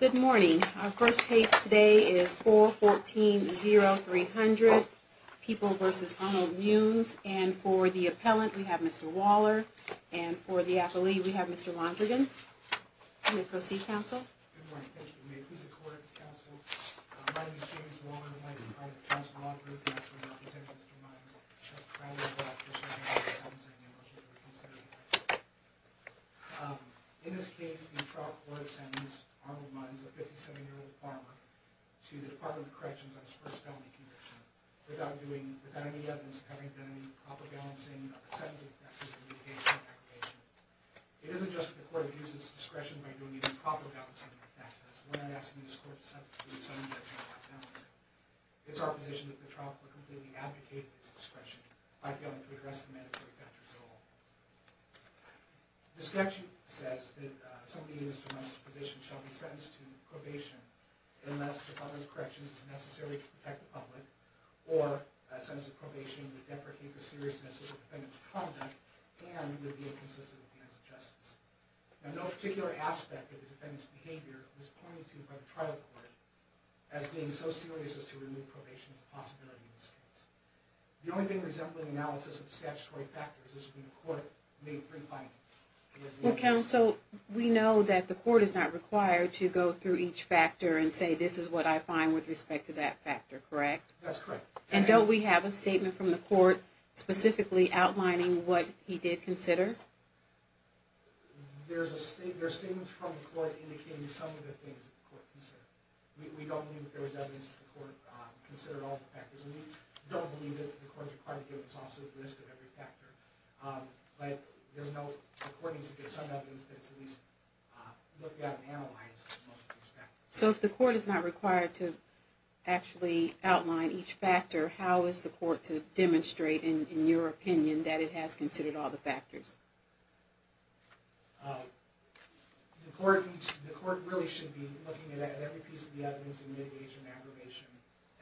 Good morning. Our first case today is 414-0300, People v. Arnold Munz. And for the appellant, we have Mr. Waller. And for the affilee, we have Mr. Londrigan. Let me proceed, counsel. Good morning. Thank you. May it please the court, counsel. My name is James Waller, and I am the counsel of Mr. Londrigan, and I am here to present Mr. Munz a trial court order sentencing in relation to the case of Mr. Munz. In this case, the trial court sentenced Mr. Arnold Munz, a 57-year-old farmer, to the Department of Corrections on his first felony conviction, without any evidence having been any proper balancing or sentencing factors in the case. It is unjust that the court abuse its discretion by doing any proper balancing or sentencing factors when asking this court to send a judge without balancing. It is our position that the trial court completely abdicated its discretion by failing to address the mandatory factors at all. The statute says that somebody in Mr. Munz's position shall be sentenced to probation unless the Department of Corrections is necessary to protect the public, or a sentence of probation would deprecate the seriousness of the defendant's conduct and would be inconsistent with the acts of justice. Now, no particular aspect of the defendant's behavior was pointed to by the trial court as being so serious as to remove probation as a possibility in this case. The only thing resembling analysis of the statutory factors is that the court made three findings. Well, counsel, we know that the court is not required to go through each factor and say, this is what I find with respect to that factor, correct? That's correct. And don't we have a statement from the court specifically outlining what he did consider? There are statements from the court indicating some of the things that the court considered. We don't believe that there is evidence that the court considered all the factors. And we don't believe that the court is required to give us also the list of every factor. But the court needs to give some evidence that at least looked at and analyzed most of these factors. So if the court is not required to actually outline each factor, how is the court to demonstrate, in your opinion, that it has considered all the factors? The court really should be looking at every piece of the evidence in mitigation and aggravation.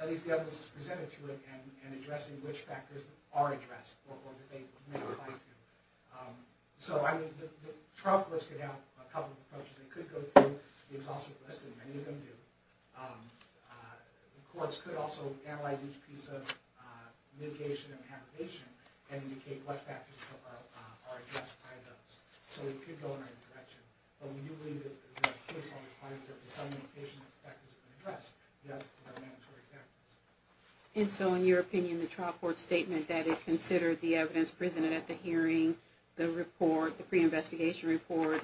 At least the evidence presented to it and addressing which factors are addressed or that they may apply to. So the trial courts could have a couple of approaches. They could go through the exhaustive list, and many of them do. The courts could also analyze each piece of mitigation and aggravation and indicate what factors are addressed by those. So we could go in either direction. But we do believe that there is a case on the client that some of the mitigation factors have been addressed. Yes, there are mandatory factors. And so in your opinion, the trial court's statement that it considered the evidence presented at the hearing, the report, the pre-investigation report,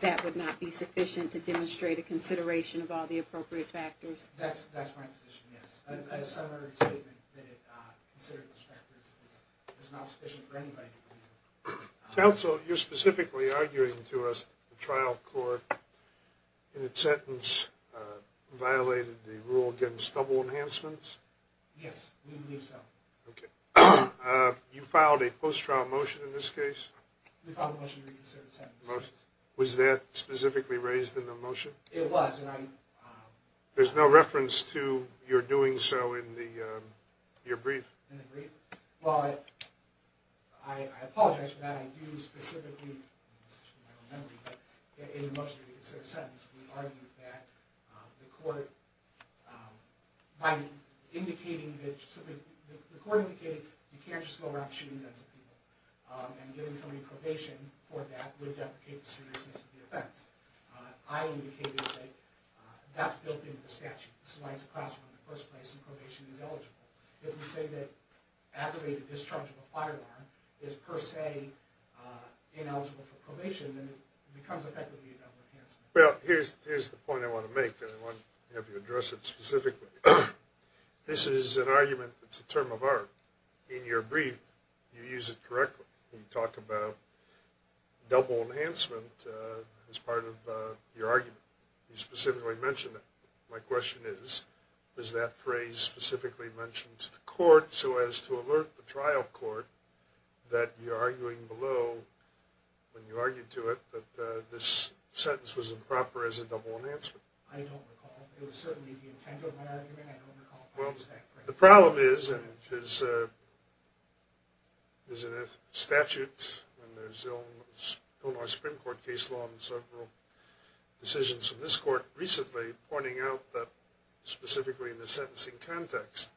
that would not be sufficient to demonstrate a consideration of all the appropriate factors? That's my position, yes. A summary statement that it considered those factors is not sufficient for anybody to believe. Counsel, you're specifically arguing to us that the trial court, in its sentence, violated the rule against double enhancements? Yes, we believe so. Okay. You filed a post-trial motion in this case? We filed a motion to reconsider the sentence. Was that specifically raised in the motion? It was. There's no reference to your doing so in your brief? In the brief? Well, I apologize for that. I do specifically, this is from my own memory, but in the motion to reconsider the sentence, we argued that the court, by indicating that, simply, the court indicated you can't just go around shooting guns at people. And giving somebody probation for that would deprecate the seriousness of the offense. I indicated that that's built into the statute. That's why it's a class one in the first place, and probation is eligible. If we say that aggravated discharge of a firearm is per se ineligible for probation, then it becomes effectively a double enhancement. Well, here's the point I want to make, and I want to have you address it specifically. This is an argument that's a term of art. In your brief, you use it correctly. You talk about double enhancement as part of your argument. You specifically mention it. My question is, is that phrase specifically mentioned to the court so as to alert the trial court that you're arguing below, when you argued to it, that this sentence was improper as a double enhancement? I don't recall. It was certainly the intent of my argument. I don't recall using that phrase. Well, the problem is, and there's a statute, and there's Illinois Supreme Court case law, and several decisions from this court recently pointing out that, specifically in the sentencing context,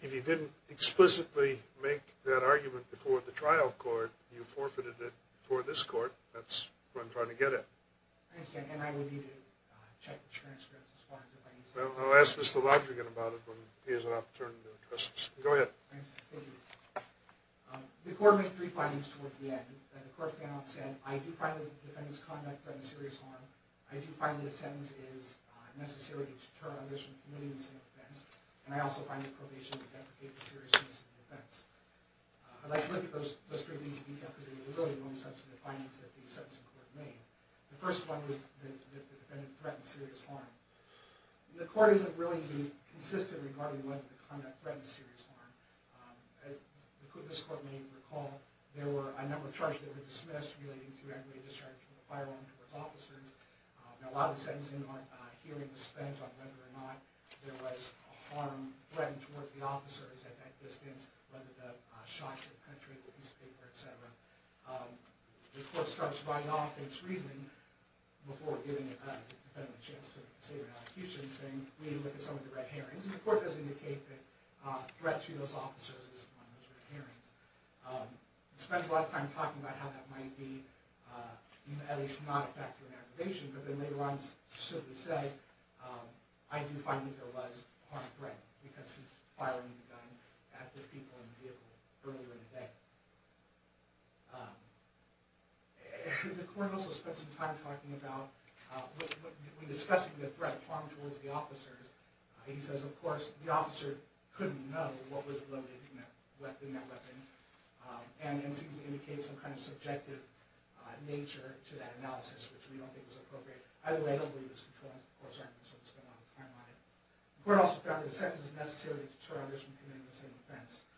if you didn't explicitly make that argument before the trial court, you forfeited it before this court. That's what I'm trying to get at. Thank you, and I will need to check the transcripts as far as if I used it. Well, I'll ask Mr. Lodrigan about it when he has an opportunity to address this. Go ahead. Thank you. The court made three findings towards the end. The court found, said, I do find that the defendant's conduct has been a serious harm. I do find that a sentence is necessary to deter others from committing the same offense. And I also find that probation would deprecate the seriousness of the offense. I'd like to look at those three things in detail because they were really the only substantive findings that the sentencing court made. The first one was that the defendant threatened serious harm. The court isn't really consistent regarding whether the conduct threatened serious harm. As this court may recall, there were a number of charges that were dismissed relating to aggravated discharge from the firearm towards officers. A lot of the sentencing hearing was spent on whether or not there was a harm threatened towards the officers at that distance, whether the shot hit the country, the piece of paper, etc. The court starts writing off its reasoning before giving the defendant a chance to consider an execution, saying we need to look at some of the red herrings. And the court does indicate that threat to those officers is one of those red herrings. It spends a lot of time talking about how that might be, at least not affect aggravation, but then later on simply says, I do find that there was harm threat because he fired the gun at the people in the vehicle earlier in the day. The court also spent some time talking about, when discussing the threat of harm towards the officers, he says of course the officer couldn't know what was loaded in that weapon, and seems to indicate some kind of subjective nature to that analysis which we don't think was appropriate. Either way, I don't believe it was controlled and the court spent a lot of time on it. The court also found that the sentence is necessary to deter others from committing the same offense.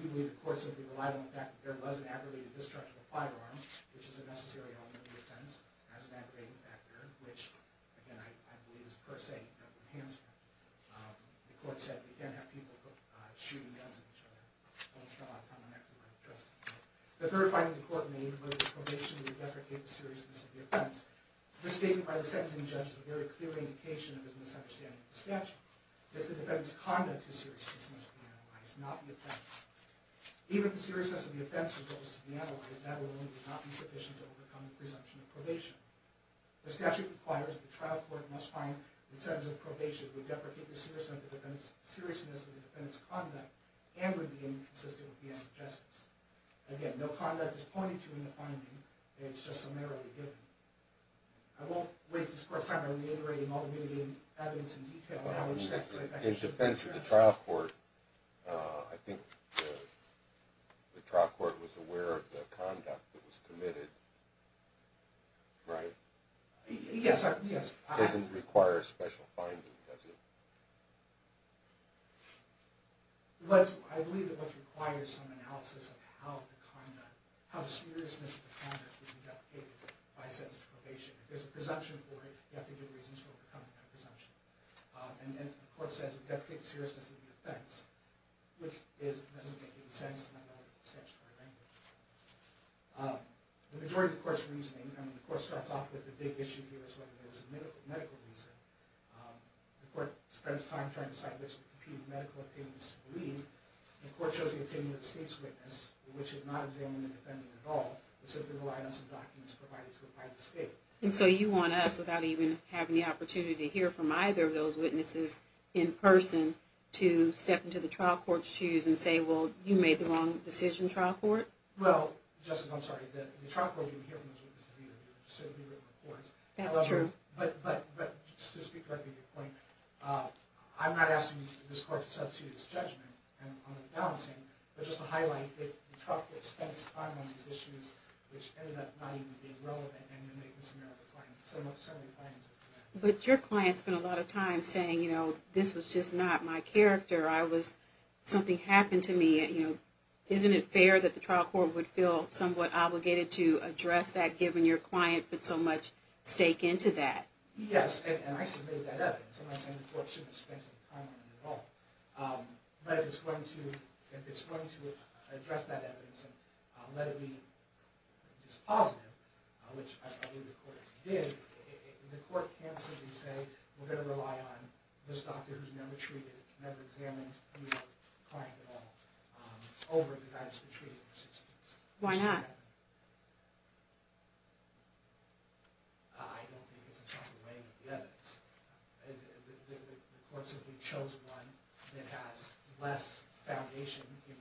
We believe the court simply relied on the fact that there was an aggravated discharge of a firearm, which is a necessary element of the offense, as an aggravating factor, which I believe is per se an enhancement. The court said we can't have people shooting guns at each other. I don't spend a lot of time on that because I don't trust the court. The third finding the court made was that probation would deprecate the seriousness of the offense. This statement by the sentencing judge is a very clear indication of his misunderstanding of the statute. It's the defendant's conduct whose seriousness must be analyzed, not the offense. Even if the seriousness of the offense was supposed to be analyzed, that alone would not be sufficient to overcome the presumption of probation. The statute requires that the trial court must find the sentence of probation would deprecate the seriousness of the defendant's conduct and would be inconsistent with the acts of justice. Again, no conduct is pointed to in the finding. It's just summarily given. I won't waste this court's time by reiterating all the evidence in detail. In defense of the trial court, I think the trial court was aware of the conduct that was committed, right? Yes. It doesn't require a special finding, does it? I believe that what's required is some analysis of how the seriousness of the conduct was deprecated by a sentence to probation. If there's a presumption for it, you have to give reasons for overcoming that presumption. The court says it deprecates the seriousness of the offense, which doesn't make any sense in a statutory language. The majority of the court's reasoning, and the court starts off with the big issue here, is whether there was a medical reason. The court spends time trying to decide which medical opinions to believe, and the court shows the opinion of the state's witness, which did not examine the defendant at all, but simply relied on some documents provided to it by the state. And so you want us, without even having the opportunity to hear from either of those witnesses in person, to step into the trial court's shoes and say, well, you made the wrong decision, trial court? Well, Justice, I'm sorry, the trial court didn't hear from those witnesses either. That's true. But, just to speak directly to your point, I'm not asking this court to substitute its judgment on the balancing, but just to highlight that the trial court spent its time on these issues, which ended up not even being relevant in the maintenance and error of the claim. But your client spent a lot of time saying, you know, this was just not my character, something happened to me, isn't it fair that the trial court would feel somewhat obligated to address that, given your client put so much stake into that? Yes, and I submitted that evidence. I'm not saying the court shouldn't have spent any time on it at all. But if it's going to address that evidence and let it be dispositive, which I believe the court did, the court can simply say, we're going to rely on this doctor who's never treated, never examined the client at all, over the guy that's been treated. Why not? I don't think it's a possible way with the evidence. The court simply chose one that has less foundation in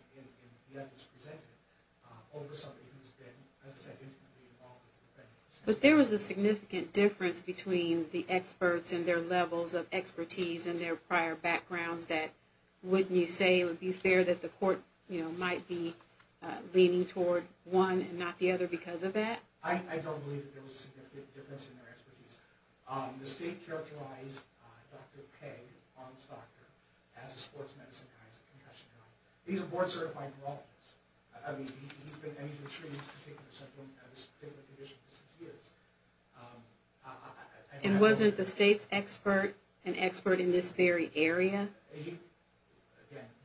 the evidence presented over somebody who's been as I said, intimately involved with the defendant. But there was a significant difference between the experts and their levels of expertise and their prior backgrounds that, wouldn't you say it would be fair that the court, you know, might be leaning toward one and not the other because of that? I don't believe that there was a significant difference in their expertise. The state characterized Dr. Pegg, the farm's doctor, as a sports medicine kind of concussion guy. He's a board certified neurologist. I mean, he's been, and he's been treating this particular patient for six years. And wasn't the state's expert an expert in this very area? Again,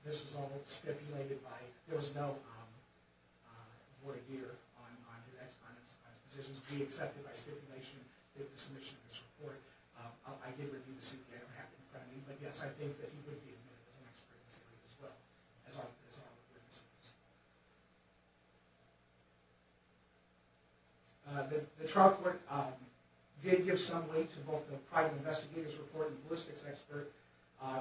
this was all stipulated by, there was no board of deer on his positions. We accepted by stipulation that the submission of this report, I did review the CPA, I don't have it in front of me, but yes, I think that he would be admitted as an expert in this area as well. The trial court did give some weight to both the private investigators' report and the ballistics expert.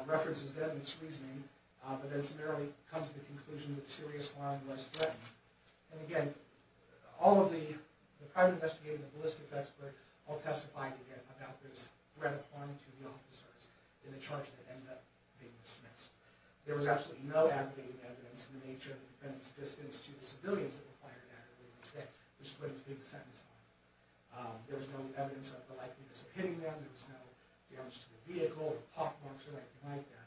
References them in its reasoning, but then summarily comes to the conclusion that serious harm was threatened. And again, all of the private investigators and the ballistics expert all testified again about this threat of harm to the officers in the charge that ended up being dismissed. There was absolutely no abiding evidence in the nature of the defendant's distance to the civilians that were fired at or were hit, which put his biggest sentence on. There was no evidence of the likelihood of hitting them, there was no damage to the vehicle, or pockmarks or anything like that.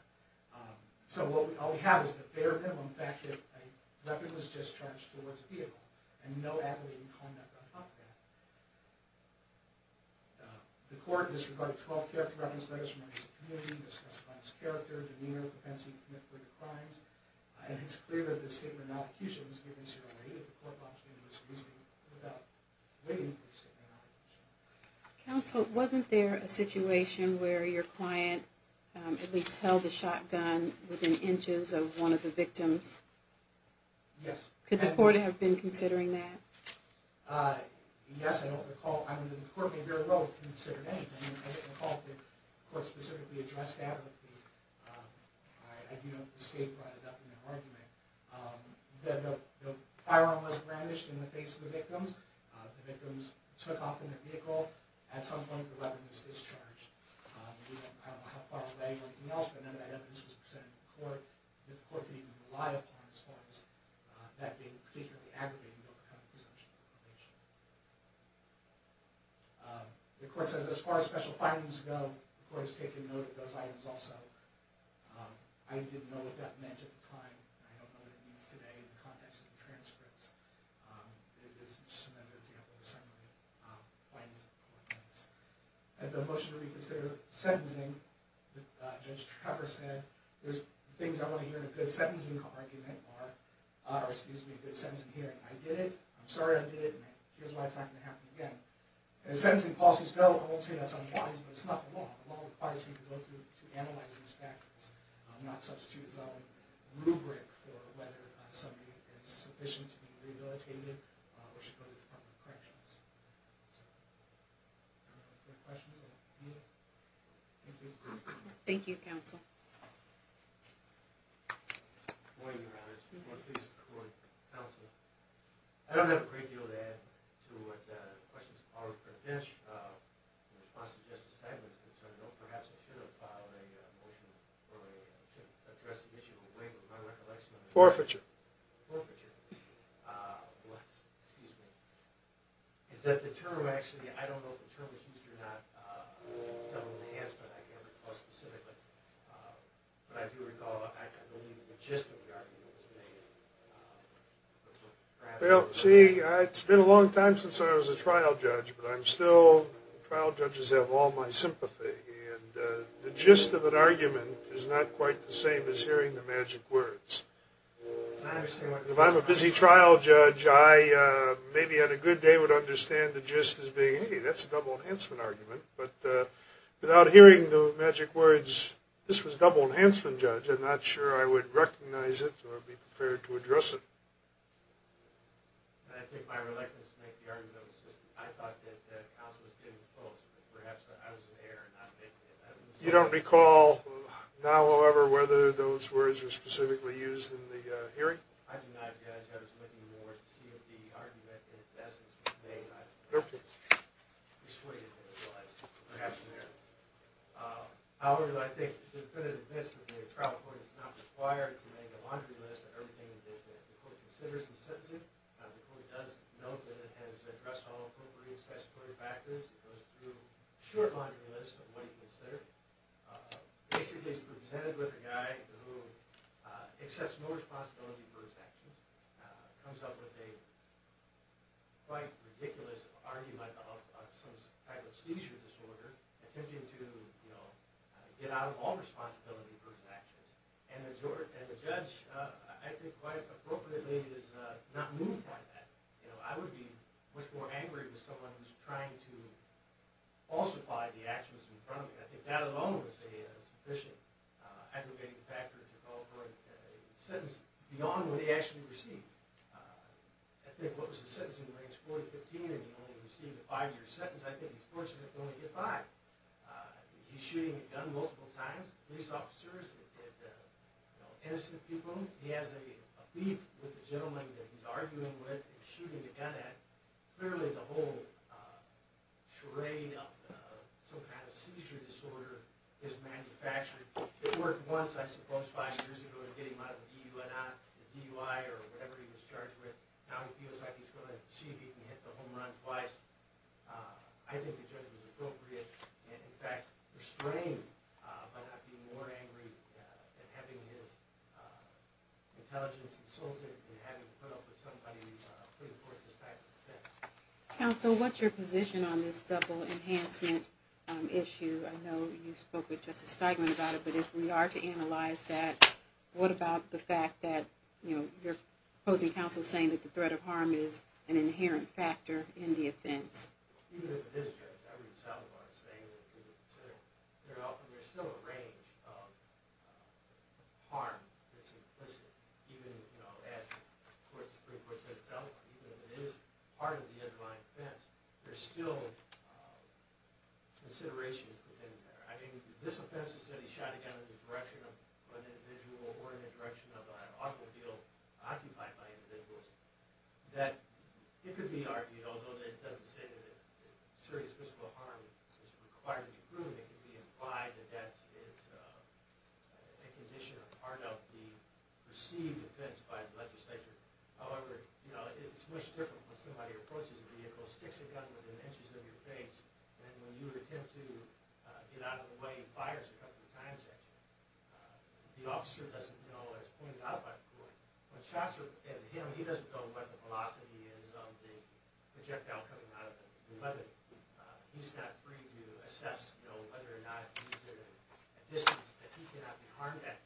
So all we have is the bare minimum fact that a weapon was discharged towards a vehicle and no abiding conduct on top of that. The court disregarded 12 character reference letters from members of the community discussed by his character, demeanor, propensity to commit further crimes, and it's clear that this statement of non-accusation was given zero weight as the court brought it into its reasoning without waiting for the statement of non-accusation. Counsel, wasn't there a situation where your client at least held a shotgun within inches of one of the victims? Yes. Could the court have been considering that? Yes, I don't recall. I mean, the court may very well have considered anything. I don't recall that the court specifically addressed that. I do know that the state brought it up in their argument. The firearm was brandished in the face of the victims. The victims took off in their vehicle. At some point, the weapon was discharged. I don't know how far away or anything else, but none of that evidence was presented to the court that the court could even rely upon as far as that being particularly aggravating to overcome presumption of probation. The court says as far as special findings go, the court has taken note of those items also. I didn't know what that meant at the time. I don't know what it means today in the context of the transcripts. It's just another example of some of the findings that the court makes. At the motion to reconsider sentencing, Judge Trakoffer said, there's things I want to hear in a good sentencing argument, or excuse me, a good sentencing hearing. I did it, I'm sorry I did it, and here's why it's not going to happen again. As sentencing policies go, I won't say that's unwise, but it's not the law. The law requires you to go through and analyze these factors, not substitute a rubric for whether something is sufficient to be rehabilitated or should go to the Department of Corrections. Any other questions? Thank you, counsel. Good morning, Your Honor. Good morning, counsel. I don't have a great deal to add to what the questions are for the finish. In response to Justice Steinberg's concern, perhaps I should have filed a motion to address the issue in a way that my recollection of it is. Forfeiture. Forfeiture. What? Excuse me. Is that the term actually, I don't know if the term was used or not, but I do recall, I believe the gist of the argument was made. Well, see, it's been a long time since I was a trial judge, but I'm still, trial judges have all my sympathy, and the gist of an argument is not quite the same as hearing the magic words. If I'm a busy trial judge, I maybe on a good day would understand the gist as being, hey, that's a double enhancement argument. But without hearing the magic words, this was double enhancement, Judge, I'm not sure I would recognize it or be prepared to address it. I think my reluctance to make the argument was just, I thought that counsel was getting close. Perhaps I was there. You don't recall now, however, whether those words were specifically used in the hearing? I do not, Judge. I was looking more to see if the argument in its essence was made. I'm not persuaded that it was. Perhaps in there. However, I think there's been an admiss that a trial court is not required to make a laundry list of everything that the court considers in sentencing. The court does note that it has addressed all appropriate statutory factors. It goes through a short laundry list of what it considers. Basically, it's presented with a guy who accepts no responsibility for his actions, comes up with a quite ridiculous argument about some type of seizure disorder, attempting to get out of all responsibility for his actions. And the judge, I think quite appropriately, is not moved by that. I would be much more angry with someone who's trying to falsify the actions in front of me. I think that alone would say a sufficient aggravating factor to call for a sentence beyond what he actually received. I think what was the sentencing range, 40-15, and he only received a five-year sentence, I think he's fortunate to only get five. He's shooting a gun multiple times. Police officers have hit innocent people. He has a beef with the gentleman that he's arguing with and shooting the gun at. Clearly, the whole charade of some kind of seizure disorder is manufactured. It worked once, I suppose, five years ago in getting him out of DUI or whatever he was charged with. Now he feels like he's going to see if he can hit the home run twice. I think the judge was appropriate and, in fact, restrained by not being more angry and having his intelligence insulted and having put up with somebody putting forth this type of offense. Counsel, what's your position on this double enhancement issue? I know you spoke with Justice Steigman about it, but if we are to analyze that, what about the fact that you're opposing counsel saying that the threat of harm is an inherent factor in the offense? Even if it is, Judge, I read Salazar saying that there's still a range of harm that's implicit, even as the Supreme Court said itself, even if it is part of the underlying offense, there's still consideration within there. I mean, this offense is that he shot a gun in the direction of an individual or in the direction of an automobile occupied by individuals. It could be argued, although it doesn't say that serious physical harm is required to be proven, it could be implied that that is a condition or part of the perceived offense by the legislature. However, it's much different when somebody approaches a vehicle, sticks a gun within inches of your face, than when you attempt to get out of the way and fires a couple of times at you. The officer doesn't know what's pointed out by the court. When shots are aimed at him, he doesn't know what the velocity is of the projectile coming out of the weapon. He's not free to assess whether or not he's at a distance that he cannot be harmed at.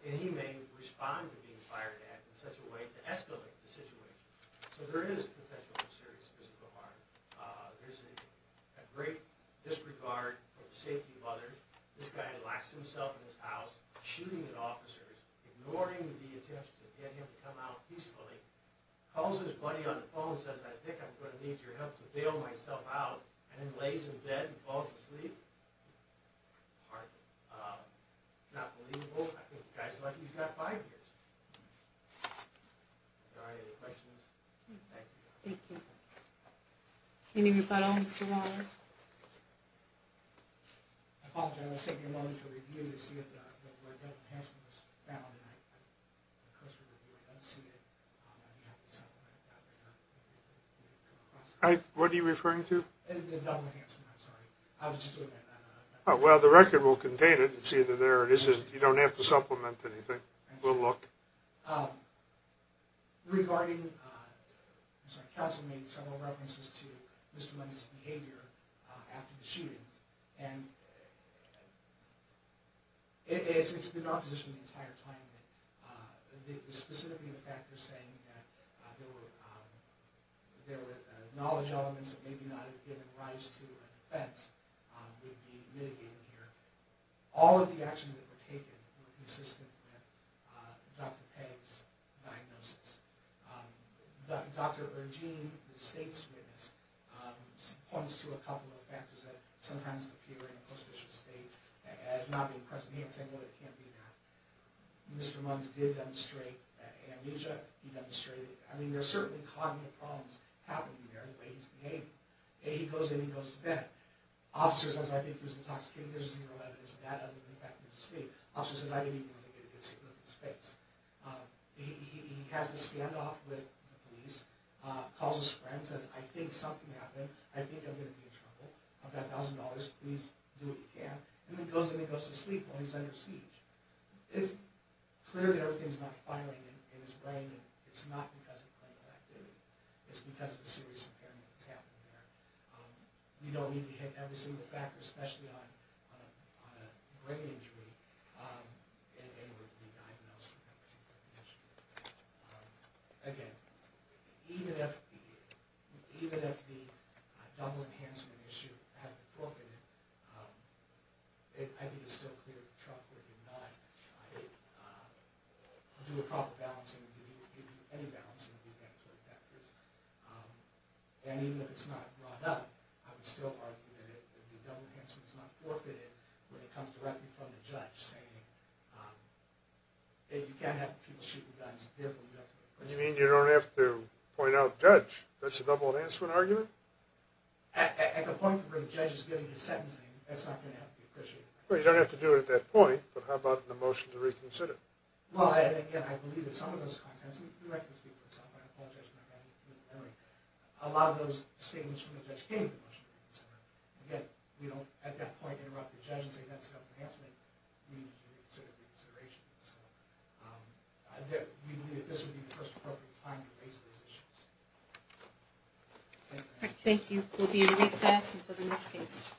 And he may respond to being fired at in such a way to escalate the situation. So there is potential for serious physical harm. There's a great disregard for the safety of others. This guy locks himself in his house, shooting at officers, ignoring the attempts to get him to come out peacefully, calls his buddy on the phone and says, I think I'm going to need your help to bail myself out, and then lays in bed and falls asleep. Hardly. Not believable. I think the guy's lucky he's got five years. Are there any questions? Thank you. Thank you. Anybody else? Mr. Waller? I apologize. I was taking a moment to review to see if where Devlin Hansen was found, and I'm supposed to review it. I don't see it. What are you referring to? Devlin Hansen, I'm sorry. Well, the record will contain it. It's either there or it isn't. You don't have to supplement anything. We'll look. Regarding, I'm sorry, counsel made several references to Mr. Lentz's behavior after the shooting, and it's been in opposition the entire time. Specifically, the fact you're saying that there were knowledge elements that maybe not have given rise to a defense would be mitigated here. All of the actions that were taken were consistent with Dr. Pegg's diagnosis. Dr. Ergine, the state's witness, points to a couple of factors that sometimes appear in a post-mortem state as not being present. He didn't say, well, it can't be that. Mr. Lentz did demonstrate amnesia. He demonstrated, I mean, there are certainly cognitive problems happening there in the way he's behaving. He goes in and he goes to bed. Officers say, I think he was intoxicated. There's zero evidence of that other than the fact that he was asleep. Officers say, I didn't even really get a good sleep looking at his face. He has a standoff with the police, calls his friends and says, I think something happened. I think I'm going to be in trouble. I've got $1,000. Please do what you can, and then goes in and goes to sleep while he's under siege. It's clear that everything's not firing in his brain, and it's not because of clinical activity. It's because of a serious impairment that's happening there. We don't need to hit every single factor, especially on a brain injury, in order to be diagnosed with that particular condition. Again, even if the double enhancement issue had been broken, I think it's still clear that the trial court did not do a proper balancing of any balancing of the mandatory factors. And even if it's not brought up, I would still argue that the double enhancement is not forfeited when it comes directly from the judge, saying, hey, you can't have people shooting guns, therefore you have to go to prison. You mean you don't have to point out the judge? That's a double enhancement argument? At the point where the judge is giving his sentencing, that's not going to have to be appreciated. Well, you don't have to do it at that point, but how about in the motion to reconsider? Well, again, I believe that some of those contents, and you're right to speak for yourself, and I apologize for my bad memory, a lot of those statements from the judge came in the motion to reconsider. Again, we don't at that point interrupt the judge and say that's a double enhancement. We need to reconsider the reconsideration. So we believe that this would be the first appropriate time to raise these issues. Thank you. Thank you. We'll be in recess until the next case.